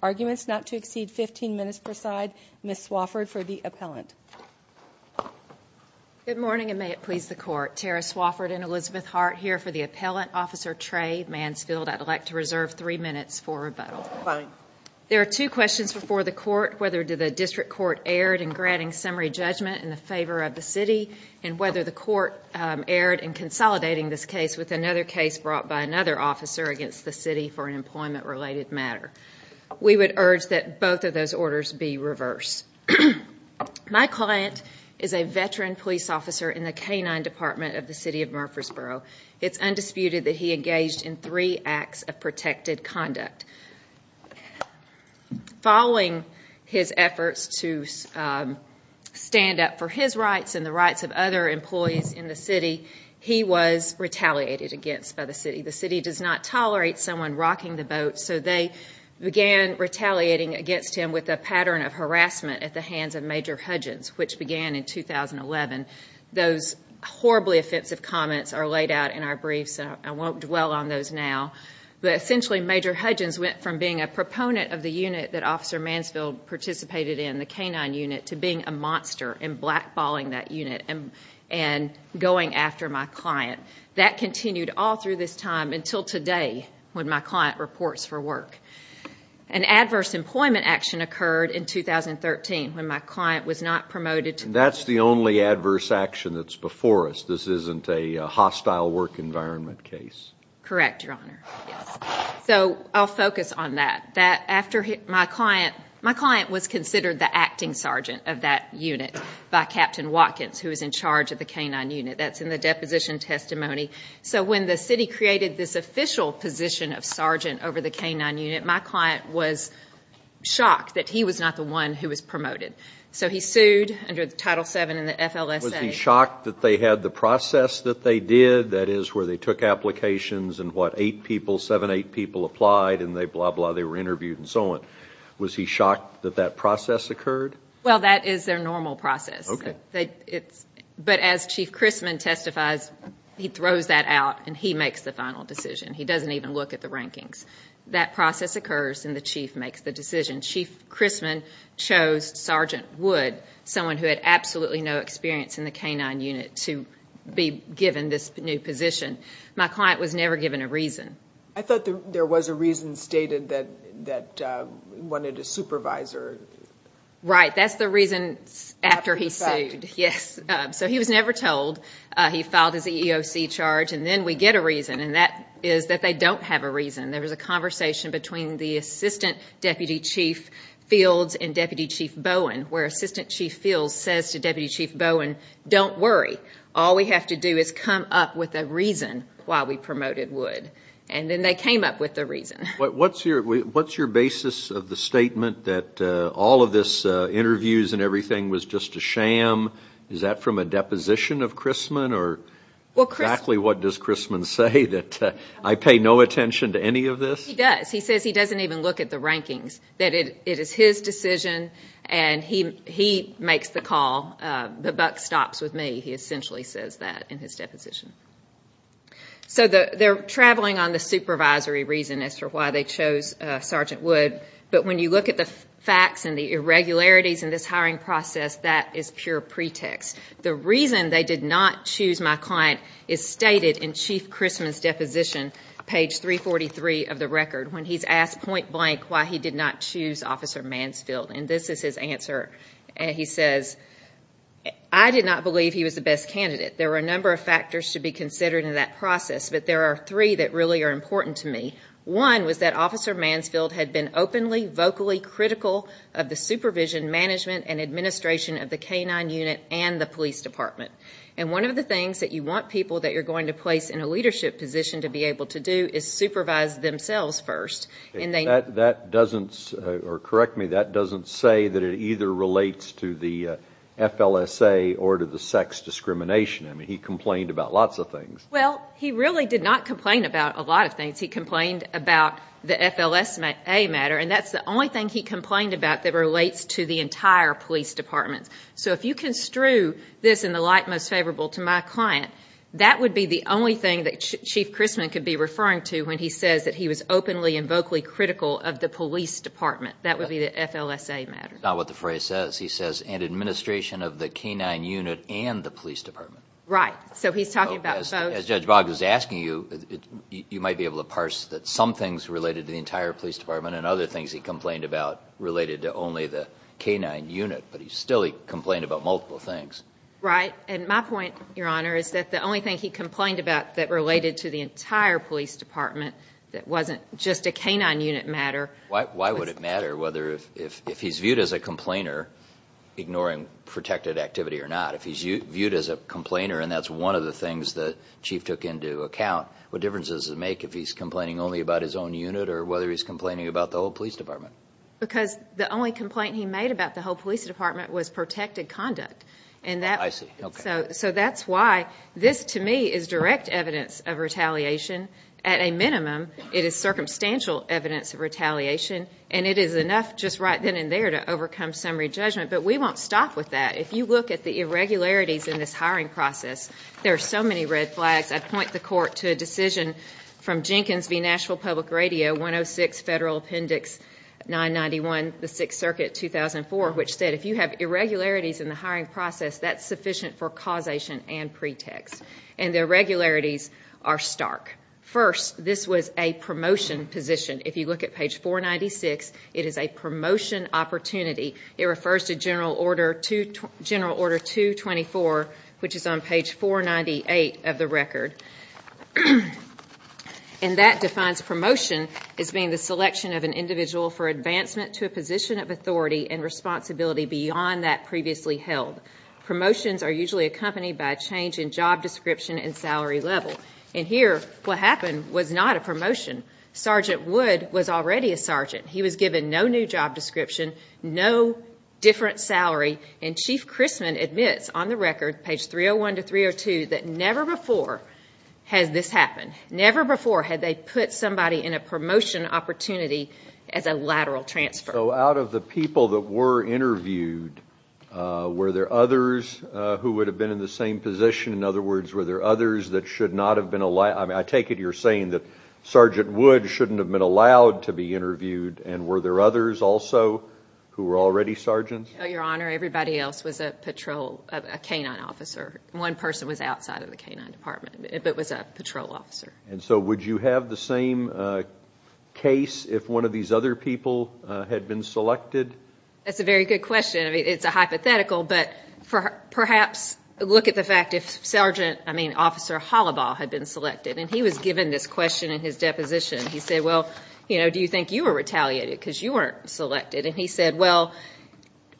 Arguments not to exceed 15 minutes per side. Ms. Swafford for the appellant. Good morning and may it please the court. Tara Swafford and Elizabeth Hart here for the appellant. Officer Trey Mansfield, I'd like to reserve three minutes for rebuttal. Fine. There are two questions before the court, whether the district court erred in granting summary judgment in favor of the city and whether the court erred in consolidating this case with another case brought by another officer against the city for an employment related matter. We would urge that both of those orders be reversed. My client is a veteran police officer in the K-9 department of the City of Murfreesboro. It's undisputed that he engaged in three acts of protected conduct. Following his efforts to stand up for his rights and the rights of other employees in the city, he was retaliated against by the city. The city does not tolerate someone rocking the boat, so they began retaliating against him with a pattern of harassment at the hands of Major Hudgens, which began in 2011. Those horribly offensive comments are laid out in our briefs, and I won't dwell on those now. But essentially, Major Hudgens went from being a proponent of the unit that Officer Mansfield participated in, the K-9 unit, to being a monster and blackballing that unit and going after my client. That continued all through this time until today, when my client reports for work. An adverse employment action occurred in 2013 when my client was not promoted. That's the only adverse action that's before us. This isn't a hostile work environment case. Correct, Your Honor. Yes. So I'll focus on that. My client was considered the acting sergeant of that unit by Captain Watkins, who was in charge of the K-9 unit. That's in the deposition testimony. So when the city created this official position of sergeant over the K-9 unit, my client was shocked that he was not the one who was promoted. So he sued under Title VII in the FLSA. Was he shocked that they had the process that they did, that is, where they took applications and what, eight people, seven, eight people applied, and they blah, blah, they were interviewed and so on? Was he shocked that that process occurred? Well, that is their normal process. Okay. But as Chief Christman testifies, he throws that out, and he makes the final decision. He doesn't even look at the rankings. That process occurs, and the chief makes the decision. Chief Christman chose Sergeant Wood, someone who had absolutely no experience in the K-9 unit, to be given this new position. My client was never given a reason. I thought there was a reason stated that he wanted a supervisor. Right. That's the reason after he sued. After the fact. Yes. So he was never told. He filed his EEOC charge, and then we get a reason, and that is that they don't have a reason. There was a conversation between the Assistant Deputy Chief Fields and Deputy Chief Bowen, where Assistant Chief Fields says to Deputy Chief Bowen, don't worry. All we have to do is come up with a reason why we promoted Wood. And then they came up with a reason. What's your basis of the statement that all of this interviews and everything was just a sham? Is that from a deposition of Christman, or exactly what does Christman say? That I pay no attention to any of this? He does. He says he doesn't even look at the rankings, that it is his decision, and he makes the call. The buck stops with me, he essentially says that in his deposition. So they're traveling on the supervisory reason as to why they chose Sergeant Wood, but when you look at the facts and the irregularities in this hiring process, that is pure pretext. The reason they did not choose my client is stated in Chief Christman's deposition, page 343 of the record, when he's asked point blank why he did not choose Officer Mansfield. And this is his answer. He says, I did not believe he was the best candidate. There were a number of factors to be considered in that process, but there are three that really are important to me. One was that Officer Mansfield had been openly, vocally critical of the supervision, management, and administration of the K-9 unit and the police department. And one of the things that you want people that you're going to place in a leadership position to be able to do is supervise themselves first. That doesn't, or correct me, that doesn't say that it either relates to the FLSA or to the sex discrimination. I mean, he complained about lots of things. Well, he really did not complain about a lot of things. He complained about the FLSA matter, and that's the only thing he complained about that relates to the entire police department. So if you construe this in the light most favorable to my client, that would be the only thing that Chief Christman could be referring to when he says that he was openly and vocally critical of the police department. That would be the FLSA matter. Not what the phrase says. He says, and administration of the K-9 unit and the police department. Right. So he's talking about both. As Judge Boggs is asking you, you might be able to parse that some things related to the entire police department and other things he complained about related to only the K-9 unit, but still he complained about multiple things. Right, and my point, Your Honor, is that the only thing he complained about that related to the entire police department that wasn't just a K-9 unit matter. Why would it matter whether if he's viewed as a complainer ignoring protected activity or not? If he's viewed as a complainer, and that's one of the things that Chief took into account, what difference does it make if he's complaining only about his own unit or whether he's complaining about the whole police department? Because the only complaint he made about the whole police department was protected conduct. I see. So that's why this, to me, is direct evidence of retaliation. At a minimum, it is circumstantial evidence of retaliation, and it is enough just right then and there to overcome summary judgment. But we won't stop with that. If you look at the irregularities in this hiring process, there are so many red flags. I'd point the Court to a decision from Jenkins v. Nashville Public Radio, 106 Federal Appendix 991, the Sixth Circuit, 2004, which said if you have irregularities in the hiring process, that's sufficient for causation and pretext. And the irregularities are stark. First, this was a promotion position. If you look at page 496, it is a promotion opportunity. It refers to General Order 224, which is on page 498 of the record. And that defines promotion as being the selection of an individual for advancement to a position of authority and responsibility beyond that previously held. Promotions are usually accompanied by a change in job description and salary level. And here, what happened was not a promotion. Sergeant Wood was already a sergeant. He was given no new job description, no different salary. And Chief Chrisman admits on the record, page 301 to 302, that never before has this happened. Never before had they put somebody in a promotion opportunity as a lateral transfer. So out of the people that were interviewed, were there others who would have been in the same position? In other words, were there others that should not have been allowed? I take it you're saying that Sergeant Wood shouldn't have been allowed to be interviewed, and were there others also who were already sergeants? Your Honor, everybody else was a patrol, a K-9 officer. One person was outside of the K-9 department, but was a patrol officer. And so would you have the same case if one of these other people had been selected? That's a very good question. It's a hypothetical, but perhaps look at the fact if Sergeant, I mean, Officer Hollibaugh had been selected. And he was given this question in his deposition. He said, well, do you think you were retaliated because you weren't selected? And he said, well,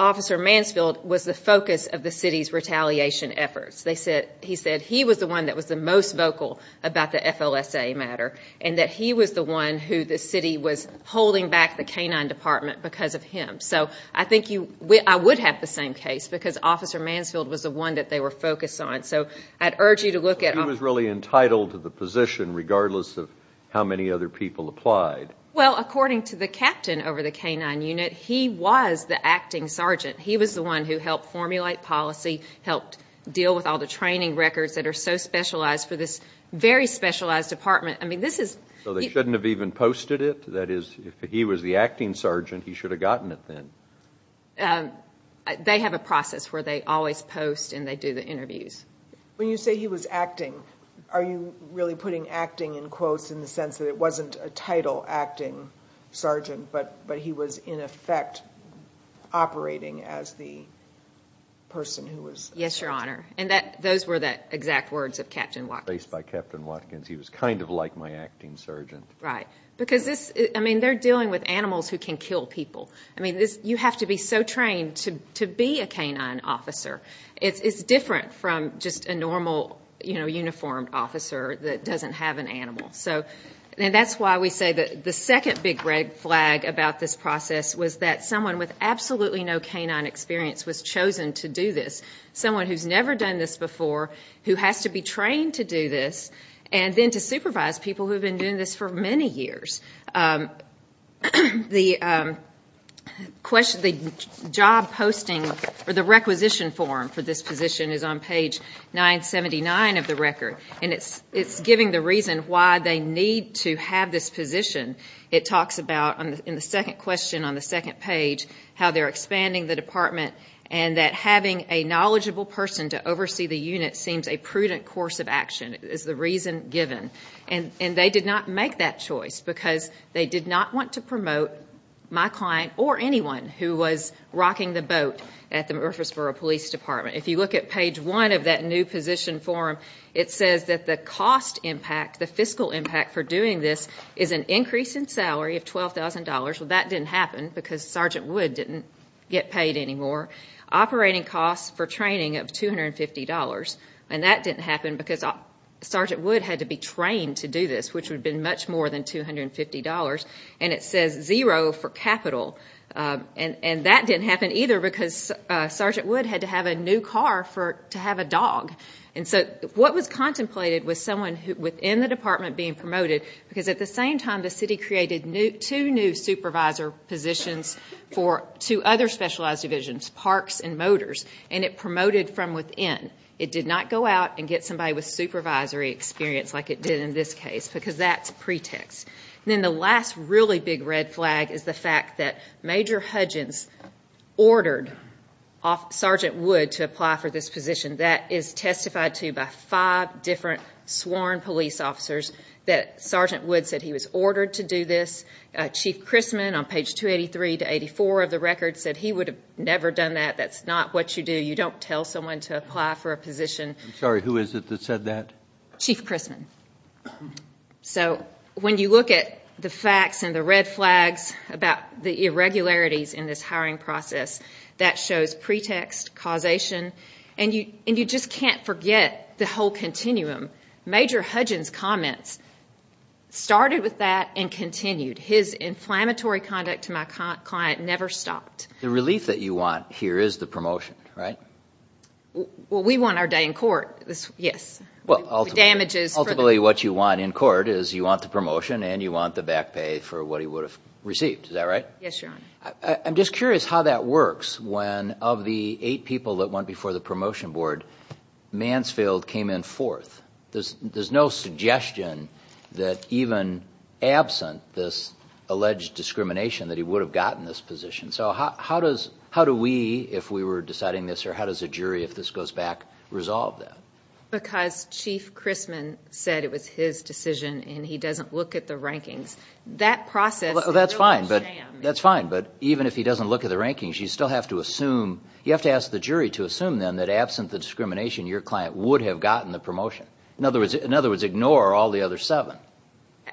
Officer Mansfield was the focus of the city's retaliation efforts. He said he was the one that was the most vocal about the FLSA matter and that he was the one who the city was holding back the K-9 department because of him. So I think I would have the same case because Officer Mansfield was the one that they were focused on. So I'd urge you to look at them. So he was really entitled to the position regardless of how many other people applied? Well, according to the captain over the K-9 unit, he was the acting sergeant. He was the one who helped formulate policy, helped deal with all the training records that are so specialized for this very specialized department. I mean, this is you. So they shouldn't have even posted it? That is, if he was the acting sergeant, he should have gotten it then? They have a process where they always post and they do the interviews. When you say he was acting, are you really putting acting in quotes in the sense that it wasn't a title acting sergeant, but he was in effect operating as the person who was acting? Yes, Your Honor. And those were the exact words of Captain Watkins. Based by Captain Watkins. He was kind of like my acting sergeant. Right. Because this, I mean, they're dealing with animals who can kill people. I mean, you have to be so trained to be a K-9 officer. It's different from just a normal, you know, uniformed officer that doesn't have an animal. And that's why we say that the second big red flag about this process was that someone with absolutely no K-9 experience was chosen to do this, someone who's never done this before, who has to be trained to do this, and then to supervise people who have been doing this for many years. The job posting or the requisition form for this position is on page 979 of the record, and it's giving the reason why they need to have this position. It talks about, in the second question on the second page, how they're expanding the department and that having a knowledgeable person to oversee the unit seems a prudent course of action is the reason given. And they did not make that choice because they did not want to promote my client or anyone who was rocking the boat at the Murfreesboro Police Department. If you look at page 1 of that new position form, it says that the cost impact, the fiscal impact for doing this is an increase in salary of $12,000. Well, that didn't happen because Sergeant Wood didn't get paid anymore. Operating costs for training of $250. And that didn't happen because Sergeant Wood had to be trained to do this, which would have been much more than $250. And it says zero for capital. And that didn't happen either because Sergeant Wood had to have a new car to have a dog. And so what was contemplated was someone within the department being promoted because at the same time the city created two new supervisor positions for two other specialized divisions, Parks and Motors, and it promoted from within. It did not go out and get somebody with supervisory experience like it did in this case because that's pretext. And then the last really big red flag is the fact that Major Hudgins ordered Sergeant Wood to apply for this position. That is testified to by five different sworn police officers that Sergeant Wood said he was ordered to do this. Chief Chrisman on page 283 to 284 of the record said he would have never done that. That's not what you do. You don't tell someone to apply for a position. I'm sorry. Who is it that said that? Chief Chrisman. So when you look at the facts and the red flags about the irregularities in this hiring process, that shows pretext, causation, and you just can't forget the whole continuum. Major Hudgins' comments started with that and continued. His inflammatory conduct to my client never stopped. The relief that you want here is the promotion, right? Well, we want our day in court, yes. Ultimately what you want in court is you want the promotion and you want the back pay for what he would have received. Is that right? Yes, Your Honor. I'm just curious how that works when of the eight people that went before the promotion board, Mansfield came in fourth. There's no suggestion that even absent this alleged discrimination that he would have gotten this position. So how do we, if we were deciding this, or how does a jury, if this goes back, resolve that? Because Chief Chrisman said it was his decision and he doesn't look at the rankings. That process is really a sham. That's fine, but even if he doesn't look at the rankings, you still have to assume. We'll ask the jury to assume then that absent the discrimination, your client would have gotten the promotion. In other words, ignore all the other seven.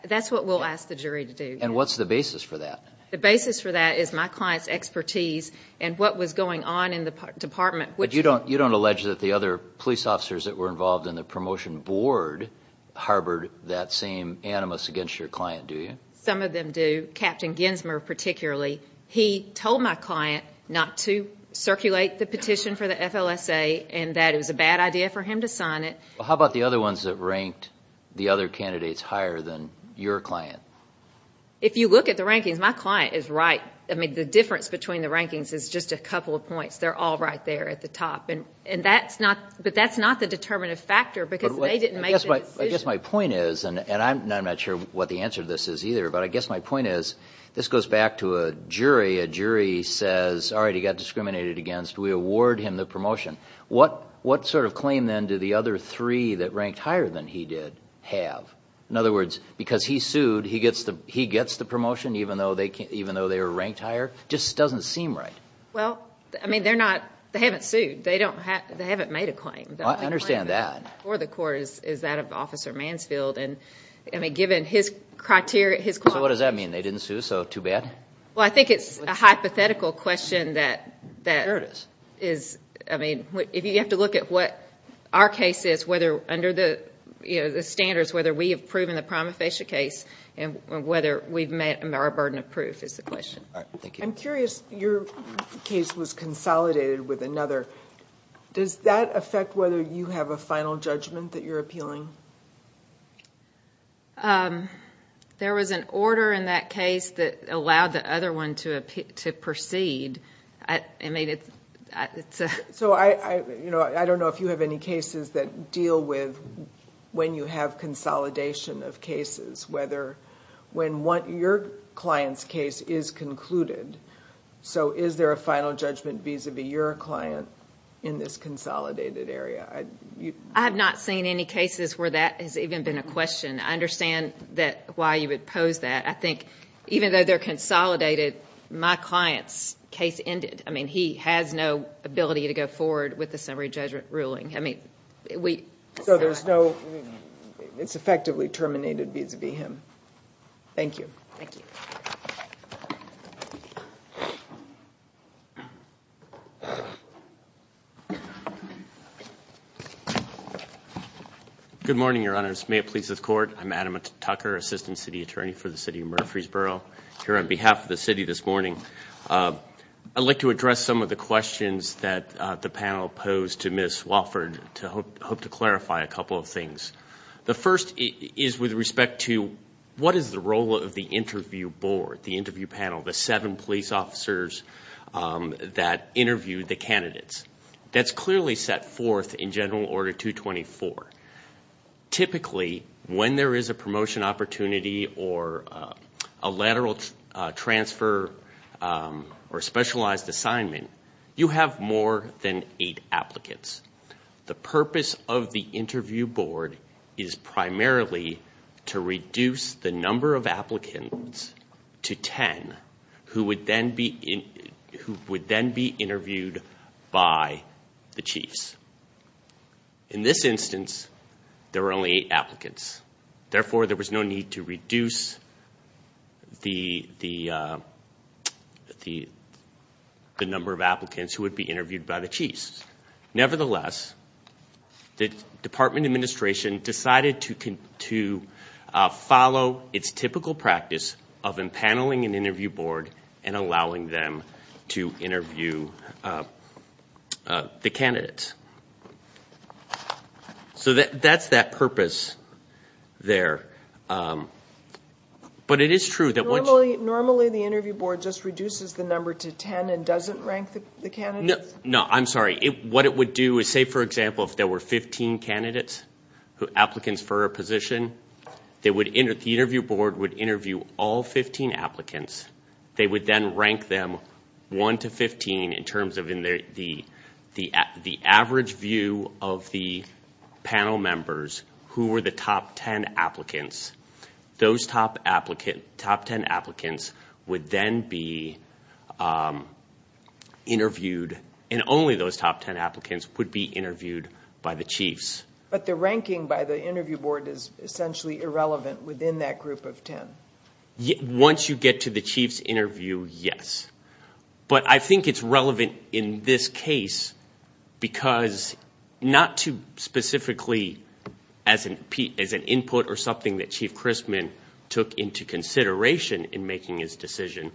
That's what we'll ask the jury to do. And what's the basis for that? The basis for that is my client's expertise and what was going on in the department. But you don't allege that the other police officers that were involved in the promotion board harbored that same animus against your client, do you? Some of them do. Captain Ginsmer particularly. He told my client not to circulate the petition for the FLSA and that it was a bad idea for him to sign it. How about the other ones that ranked the other candidates higher than your client? If you look at the rankings, my client is right. I mean, the difference between the rankings is just a couple of points. They're all right there at the top. But that's not the determinative factor because they didn't make the decision. I guess my point is, and I'm not sure what the answer to this is either, but I guess my point is, this goes back to a jury. A jury says, all right, he got discriminated against. We award him the promotion. What sort of claim, then, do the other three that ranked higher than he did have? In other words, because he sued, he gets the promotion even though they were ranked higher? It just doesn't seem right. Well, I mean, they haven't sued. They haven't made a claim. I understand that. Before the court is that of Officer Mansfield. So what does that mean? They didn't sue, so too bad? Well, I think it's a hypothetical question that is, I mean, if you have to look at what our case is under the standards, whether we have proven the prima facie case and whether we've met our burden of proof is the question. All right, thank you. I'm curious. Your case was consolidated with another. Does that affect whether you have a final judgment that you're appealing? There was an order in that case that allowed the other one to proceed. I don't know if you have any cases that deal with when you have consolidation of cases, whether when your client's case is concluded, so is there a final judgment vis-à-vis your client in this consolidated area? I have not seen any cases where that has even been a question. I understand why you would pose that. I think even though they're consolidated, my client's case ended. I mean, he has no ability to go forward with the summary judgment ruling. So there's no, it's effectively terminated vis-à-vis him. Thank you. Thank you. Good morning, Your Honors. May it please the Court. I'm Adam Tucker, Assistant City Attorney for the City of Murfreesboro, here on behalf of the city this morning. I'd like to address some of the questions that the panel posed to Ms. Wofford to hope to clarify a couple of things. The first is with respect to what is the role of the interview board, the interview panel, the seven police officers that interview the candidates. That's clearly set forth in General Order 224. Typically, when there is a promotion opportunity or a lateral transfer or specialized assignment, you have more than eight applicants. The purpose of the interview board is primarily to reduce the number of applicants to ten who would then be interviewed by the chiefs. In this instance, there were only eight applicants. Therefore, there was no need to reduce the number of applicants who would be interviewed by the chiefs. Nevertheless, the Department of Administration decided to follow its typical practice of empaneling an interview board and allowing them to interview the candidates. So that's that purpose there. But it is true that once- Normally, the interview board just reduces the number to ten and doesn't rank the candidates? No, I'm sorry. What it would do is say, for example, if there were 15 candidates, applicants for a position, the interview board would interview all 15 applicants. They would then rank them one to 15 in terms of the average view of the panel members who were the top ten applicants. Those top ten applicants would then be interviewed, and only those top ten applicants would be interviewed by the chiefs. But the ranking by the interview board is essentially irrelevant within that group of ten? Once you get to the chiefs' interview, yes. But I think it's relevant in this case because not to specifically as an input or something that Chief Christman took into consideration in making his decision,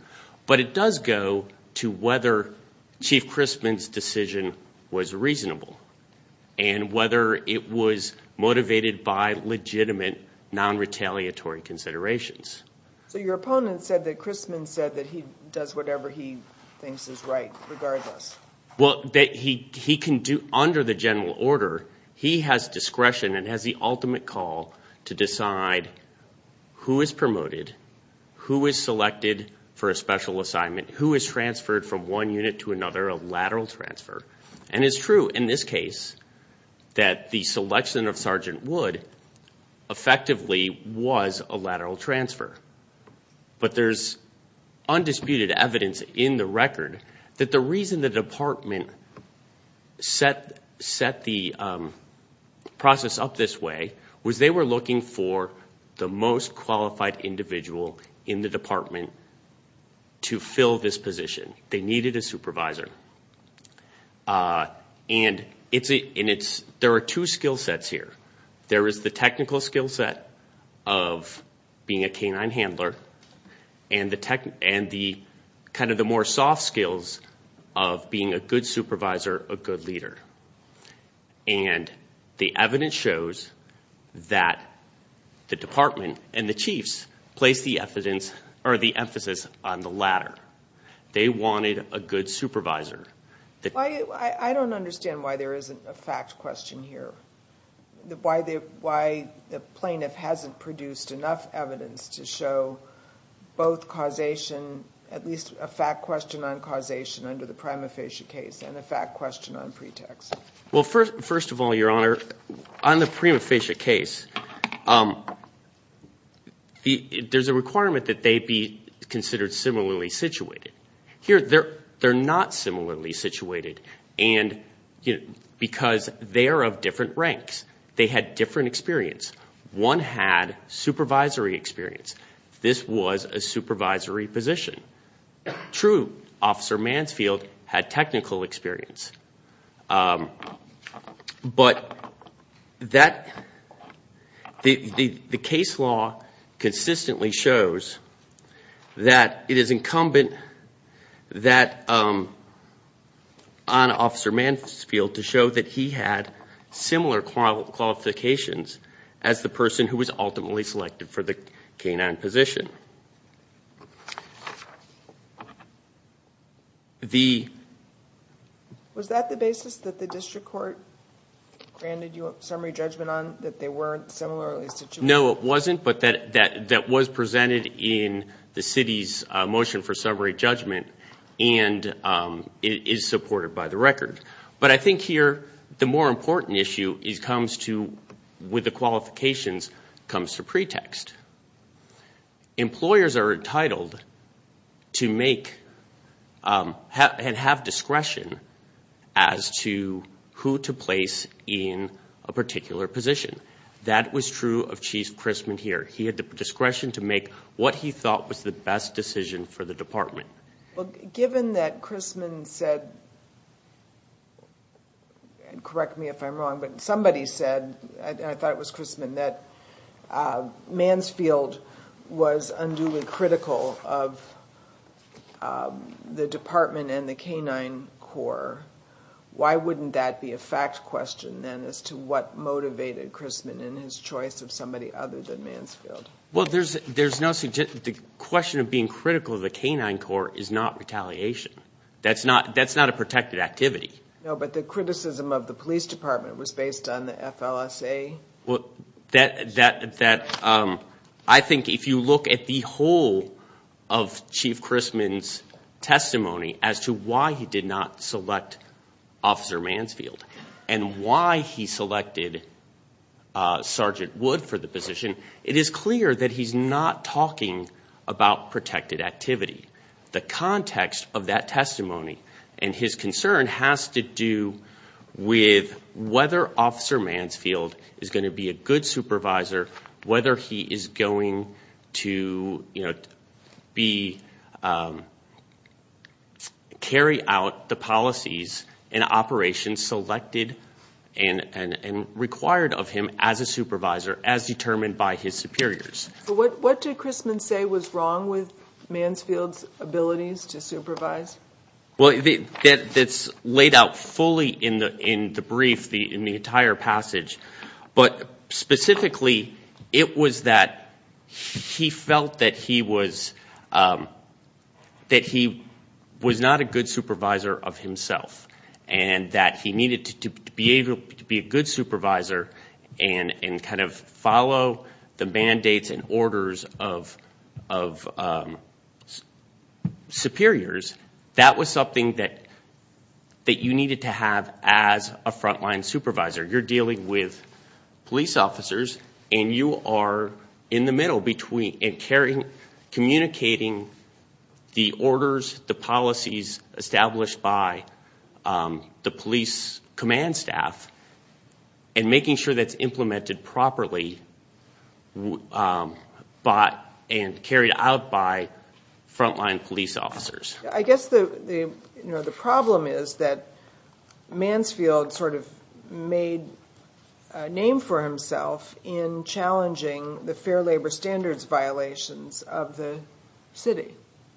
but it does go to whether Chief Christman's decision was reasonable and whether it was motivated by legitimate, non-retaliatory considerations. So your opponent said that Christman said that he does whatever he thinks is right regardless? Well, under the general order, he has discretion and has the ultimate call to decide who is promoted, who is selected for a special assignment, who is transferred from one unit to another, a lateral transfer. And it's true in this case that the selection of Sergeant Wood effectively was a lateral transfer. But there's undisputed evidence in the record that the reason the department set the process up this way was they were looking for the most qualified individual in the department to fill this position. They needed a supervisor. And there are two skill sets here. There is the technical skill set of being a canine handler and the kind of the more soft skills of being a good supervisor, a good leader. And the evidence shows that the department and the chiefs placed the emphasis on the latter. They wanted a good supervisor. I don't understand why there isn't a fact question here, why the plaintiff hasn't produced enough evidence to show both causation, at least a fact question on causation under the prima facie case and a fact question on pretext. Well, first of all, Your Honor, on the prima facie case, there's a requirement that they be considered similarly situated. Here, they're not similarly situated because they are of different ranks. They had different experience. One had supervisory experience. This was a supervisory position. True, Officer Mansfield had technical experience. But the case law consistently shows that it is incumbent on Officer Mansfield to show that he had similar qualifications as the person who was ultimately selected for the canine position. Was that the basis that the district court granted you a summary judgment on, that they weren't similarly situated? No, it wasn't, but that was presented in the city's motion for summary judgment, and it is supported by the record. But I think here the more important issue with the qualifications comes to pretext. Employers are entitled to make and have discretion as to who to place in a particular position. That was true of Chief Crisman here. He had the discretion to make what he thought was the best decision for the department. Well, given that Crisman said, and correct me if I'm wrong, but somebody said, and I thought it was Crisman, that Mansfield was unduly critical of the department and the canine corps, why wouldn't that be a fact question then as to what motivated Crisman in his choice of somebody other than Mansfield? Well, the question of being critical of the canine corps is not retaliation. That's not a protected activity. No, but the criticism of the police department was based on the FLSA. Well, I think if you look at the whole of Chief Crisman's testimony as to why he did not select Officer Mansfield and why he selected Sergeant Wood for the position, it is clear that he's not talking about protected activity. The context of that testimony and his concern has to do with whether Officer Mansfield is going to be a good supervisor, whether he is going to carry out the policies and operations selected and required of him as a supervisor as determined by his superiors. What did Crisman say was wrong with Mansfield's abilities to supervise? Well, it's laid out fully in the brief, in the entire passage, but specifically it was that he felt that he was not a good supervisor of himself and that he needed to be a good supervisor and kind of follow the mandates and orders of superiors. That was something that you needed to have as a frontline supervisor. You're dealing with police officers and you are in the middle between communicating the orders, the policies established by the police command staff and making sure that's implemented properly and carried out by frontline police officers. I guess the problem is that Mansfield sort of made a name for himself in challenging the fair labor standards violations of the city,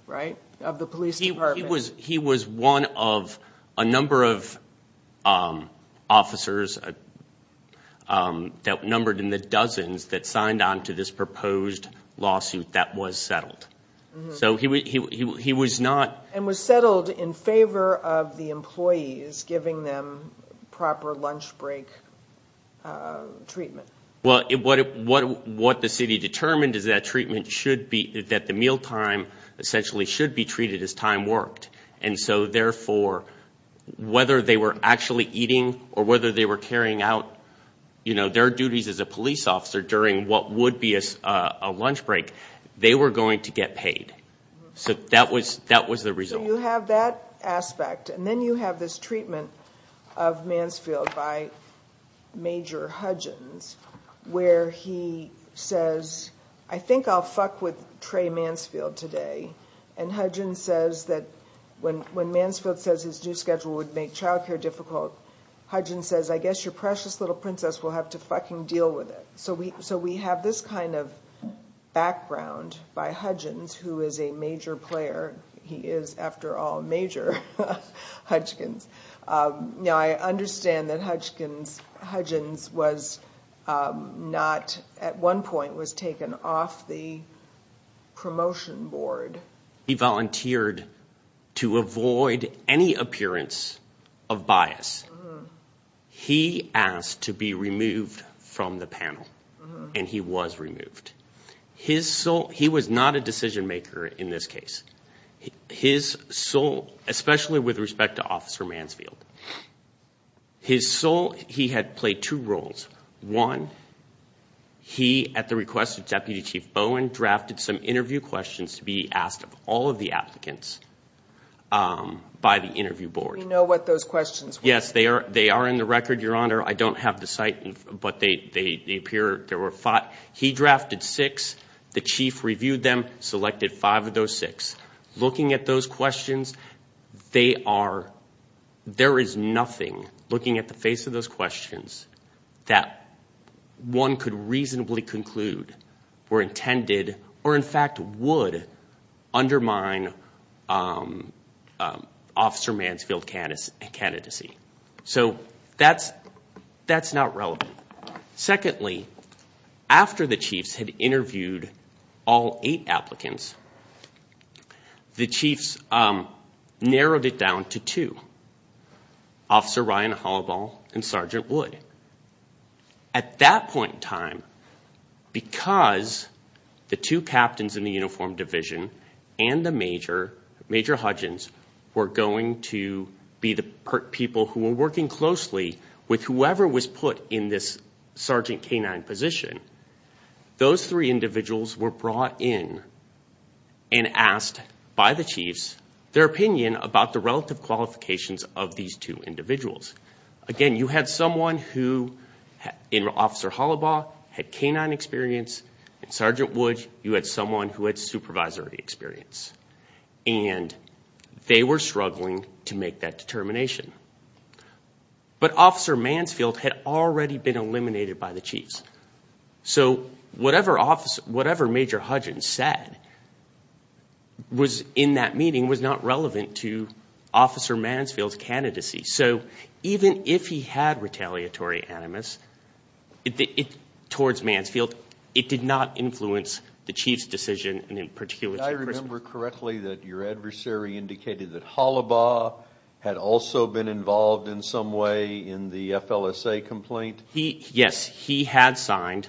right, of the police department. He was one of a number of officers that numbered in the dozens that signed on to this proposed lawsuit that was settled. So he was not... And was settled in favor of the employees giving them proper lunch break treatment. Well, what the city determined is that treatment should be... that the mealtime essentially should be treated as time worked. And so, therefore, whether they were actually eating or whether they were carrying out their duties as a police officer during what would be a lunch break, they were going to get paid. So that was the result. So you have that aspect. And then you have this treatment of Mansfield by Major Hudgens where he says, I think I'll fuck with Trey Mansfield today. And Hudgens says that when Mansfield says his new schedule would make child care difficult, Hudgens says, I guess your precious little princess will have to fucking deal with it. So we have this kind of background by Hudgens, who is a major player. He is, after all, Major Hudgens. Now, I understand that Hudgens was not... at one point was taken off the promotion board. He volunteered to avoid any appearance of bias. He asked to be removed from the panel, and he was removed. He was not a decision maker in this case, especially with respect to Officer Mansfield. He had played two roles. One, he, at the request of Deputy Chief Bowen, drafted some interview questions to be asked of all of the applicants by the interview board. We know what those questions were. Yes, they are in the record, Your Honor. I don't have the site, but they appear... He drafted six. The chief reviewed them, selected five of those six. Looking at those questions, they are... there is nothing, looking at the face of those questions, that one could reasonably conclude were intended, or, in fact, would undermine Officer Mansfield's candidacy. So that's not relevant. Secondly, after the chiefs had interviewed all eight applicants, the chiefs narrowed it down to two, Officer Ryan Hollibaugh and Sergeant Wood. At that point in time, because the two captains in the uniformed division and the major, Major Hudgens, were going to be the people who were working closely with whoever was put in this Sergeant K-9 position, those three individuals were brought in and asked by the chiefs their opinion about the relative qualifications of these two individuals. Again, you had someone who, in Officer Hollibaugh, had K-9 experience. In Sergeant Wood, you had someone who had supervisory experience. And they were struggling to make that determination. But Officer Mansfield had already been eliminated by the chiefs. So whatever Major Hudgens said in that meeting was not relevant to Officer Mansfield's candidacy. So even if he had retaliatory animus towards Mansfield, it did not influence the chief's decision, and in particular... Did I remember correctly that your adversary indicated that he had been involved in some way in the FLSA complaint? Yes, he had signed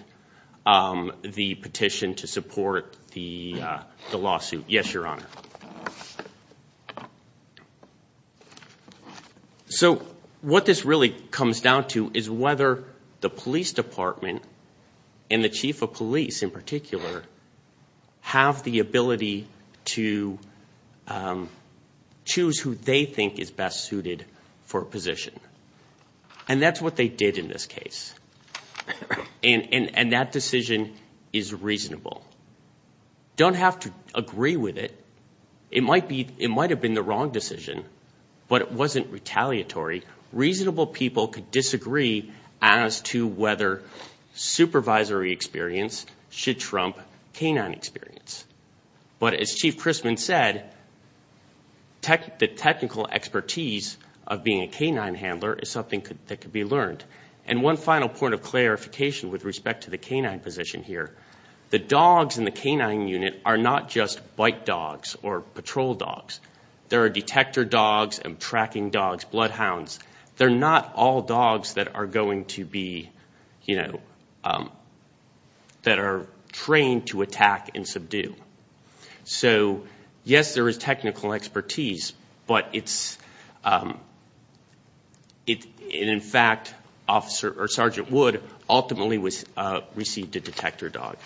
the petition to support the lawsuit. Yes, Your Honor. So what this really comes down to is whether the police department and the chief of police in particular have the ability to choose who they think is best suited for a position. And that's what they did in this case. And that decision is reasonable. Don't have to agree with it. It might have been the wrong decision, but it wasn't retaliatory. Reasonable people could disagree as to whether supervisory experience should trump K-9 experience. But as Chief Chrisman said, the technical expertise of being a K-9 handler is something that could be learned. And one final point of clarification with respect to the K-9 position here. The dogs in the K-9 unit are not just bite dogs or patrol dogs. There are detector dogs and tracking dogs, bloodhounds. They're not all dogs that are going to be, you know, that are trained to attack and subdue. So, yes, there is technical expertise, but it's, in fact, Sergeant Wood ultimately received a detector dog.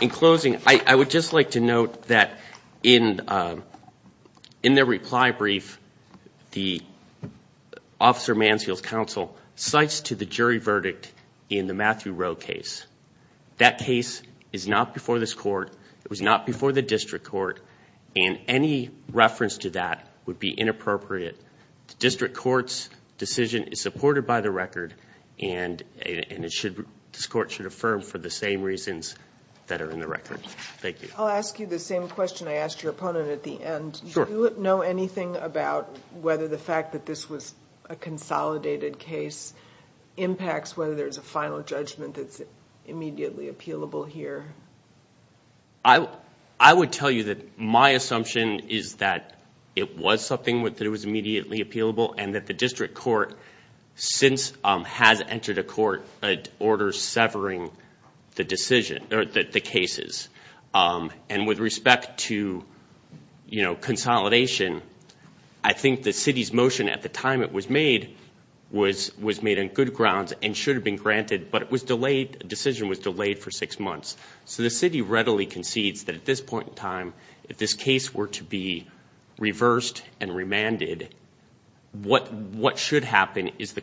In closing, I would just like to note that in their reply brief, the Officer Mansfield's counsel cites to the jury verdict in the Matthew Rowe case. That case is not before this court. It was not before the district court, and any reference to that would be inappropriate. The district court's decision is supported by the record, and this court should affirm for the same reasons that are in the record. Thank you. I'll ask you the same question I asked your opponent at the end. Sure. Do you know anything about whether the fact that this was a consolidated case impacts whether there's a final judgment that's immediately appealable here? I would tell you that my assumption is that it was something that was immediately appealable and that the district court since has entered a court order severing the decision or the cases. And with respect to, you know, consolidation, I think the city's motion at the time it was made was made on good grounds and should have been granted, but it was delayed. The decision was delayed for six months. So the city readily concedes that at this point in time, if this case were to be reversed and remanded, what should happen is the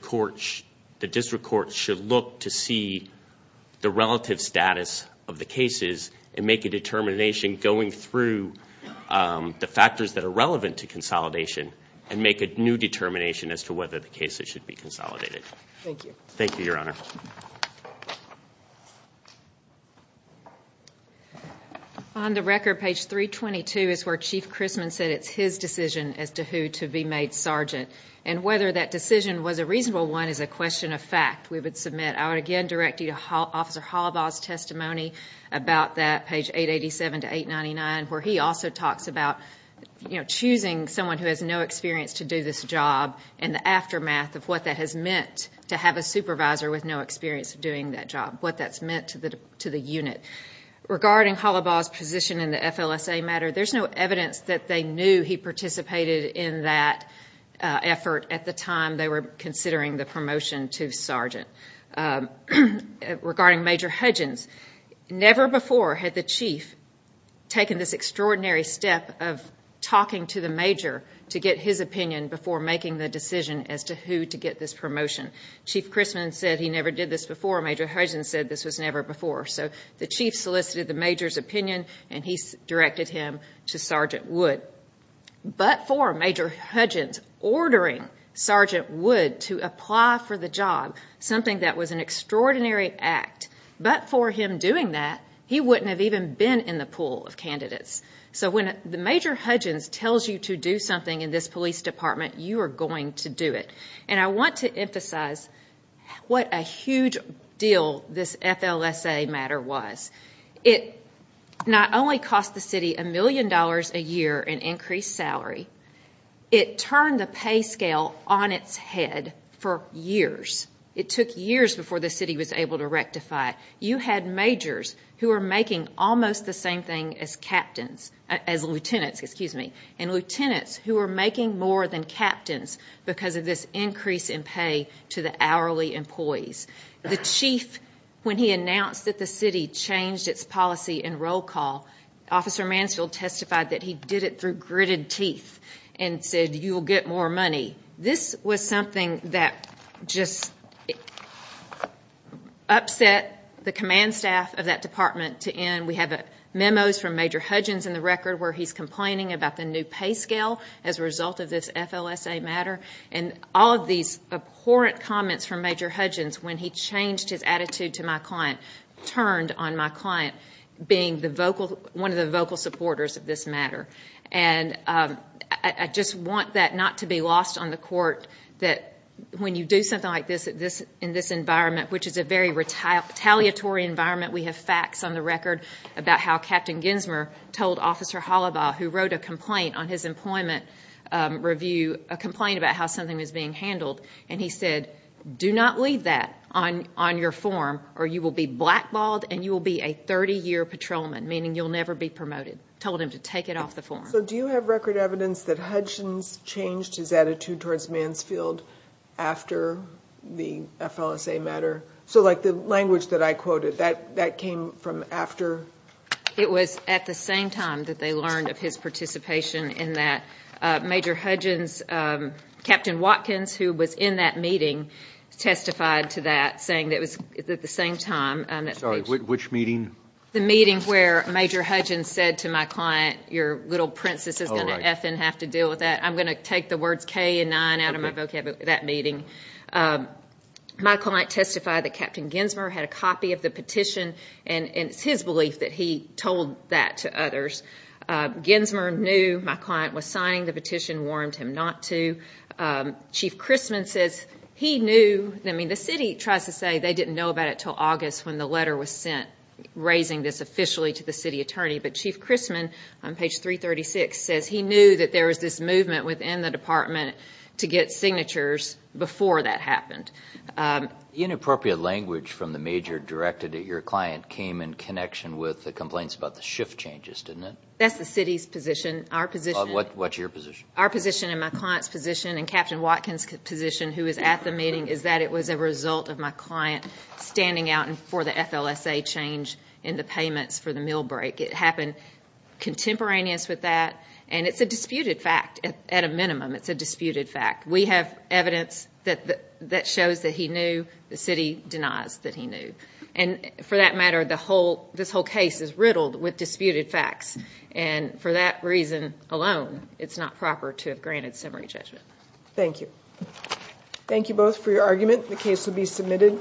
district court should look to see the relative status of the cases and make a determination going through the factors that are relevant to consolidation and make a new determination as to whether the case should be consolidated. Thank you. Thank you, Your Honor. Thank you. On the record, page 322 is where Chief Christman said it's his decision as to who to be made sergeant. And whether that decision was a reasonable one is a question of fact. We would submit. I would again direct you to Officer Holbaugh's testimony about that, page 887 to 899, where he also talks about, you know, choosing someone who has no experience to do this job and the aftermath of what that has meant to have a supervisor with no experience of doing that job, what that's meant to the unit. Regarding Holbaugh's position in the FLSA matter, there's no evidence that they knew he participated in that effort at the time they were considering the promotion to sergeant. Regarding Major Hudgins, never before had the chief taken this extraordinary step of talking to the major to get his opinion before making the decision as to who to get this promotion. Chief Christman said he never did this before. Major Hudgins said this was never before. So the chief solicited the major's opinion, and he directed him to Sergeant Wood. But for Major Hudgins ordering Sergeant Wood to apply for the job, something that was an extraordinary act, but for him doing that, he wouldn't have even been in the pool of candidates. So when Major Hudgins tells you to do something in this police department, you are going to do it. And I want to emphasize what a huge deal this FLSA matter was. It not only cost the city $1 million a year in increased salary, it turned the pay scale on its head for years. It took years before the city was able to rectify. You had majors who were making almost the same thing as captains, as lieutenants, excuse me, and lieutenants who were making more than captains because of this increase in pay to the hourly employees. The chief, when he announced that the city changed its policy in roll call, Officer Mansfield testified that he did it through gritted teeth and said you will get more money. This was something that just upset the command staff of that department to end. We have memos from Major Hudgins in the record where he's complaining about the new pay scale as a result of this FLSA matter. And all of these abhorrent comments from Major Hudgins when he changed his attitude to my client turned on my client being one of the vocal supporters of this matter. And I just want that not to be lost on the court that when you do something like this in this environment, which is a very retaliatory environment, we have facts on the record about how Captain Ginsmer told Officer Hollibaugh, who wrote a complaint on his employment review, a complaint about how something was being handled, and he said do not leave that on your form or you will be blackballed and you will be a 30-year patrolman, meaning you'll never be promoted, told him to take it off the form. So do you have record evidence that Hudgins changed his attitude towards Mansfield after the FLSA matter? So like the language that I quoted, that came from after? It was at the same time that they learned of his participation in that. Major Hudgins, Captain Watkins, who was in that meeting, testified to that, saying it was at the same time. Sorry, which meeting? The meeting where Major Hudgins said to my client, your little princess is going to have to deal with that. I'm going to take the words K and 9 out of my vocabulary, that meeting. My client testified that Captain Ginsmer had a copy of the petition, and it's his belief that he told that to others. Ginsmer knew my client was signing the petition, warned him not to. Chief Chrisman says he knew. I mean, the city tries to say they didn't know about it until August when the letter was sent, raising this officially to the city attorney. But Chief Chrisman, on page 336, says he knew that there was this movement within the department to get signatures before that happened. The inappropriate language from the major directed at your client came in connection with the complaints about the shift changes, didn't it? That's the city's position. Our position. What's your position? Our position and my client's position and Captain Watkins' position, who was at the meeting, is that it was a result of my client standing out for the FLSA change in the payments for the meal break. It happened contemporaneous with that, and it's a disputed fact at a minimum. It's a disputed fact. We have evidence that shows that he knew. The city denies that he knew. And for that matter, this whole case is riddled with disputed facts. And for that reason alone, it's not proper to have granted summary judgment. Thank you. Thank you both for your argument. The case will be submitted.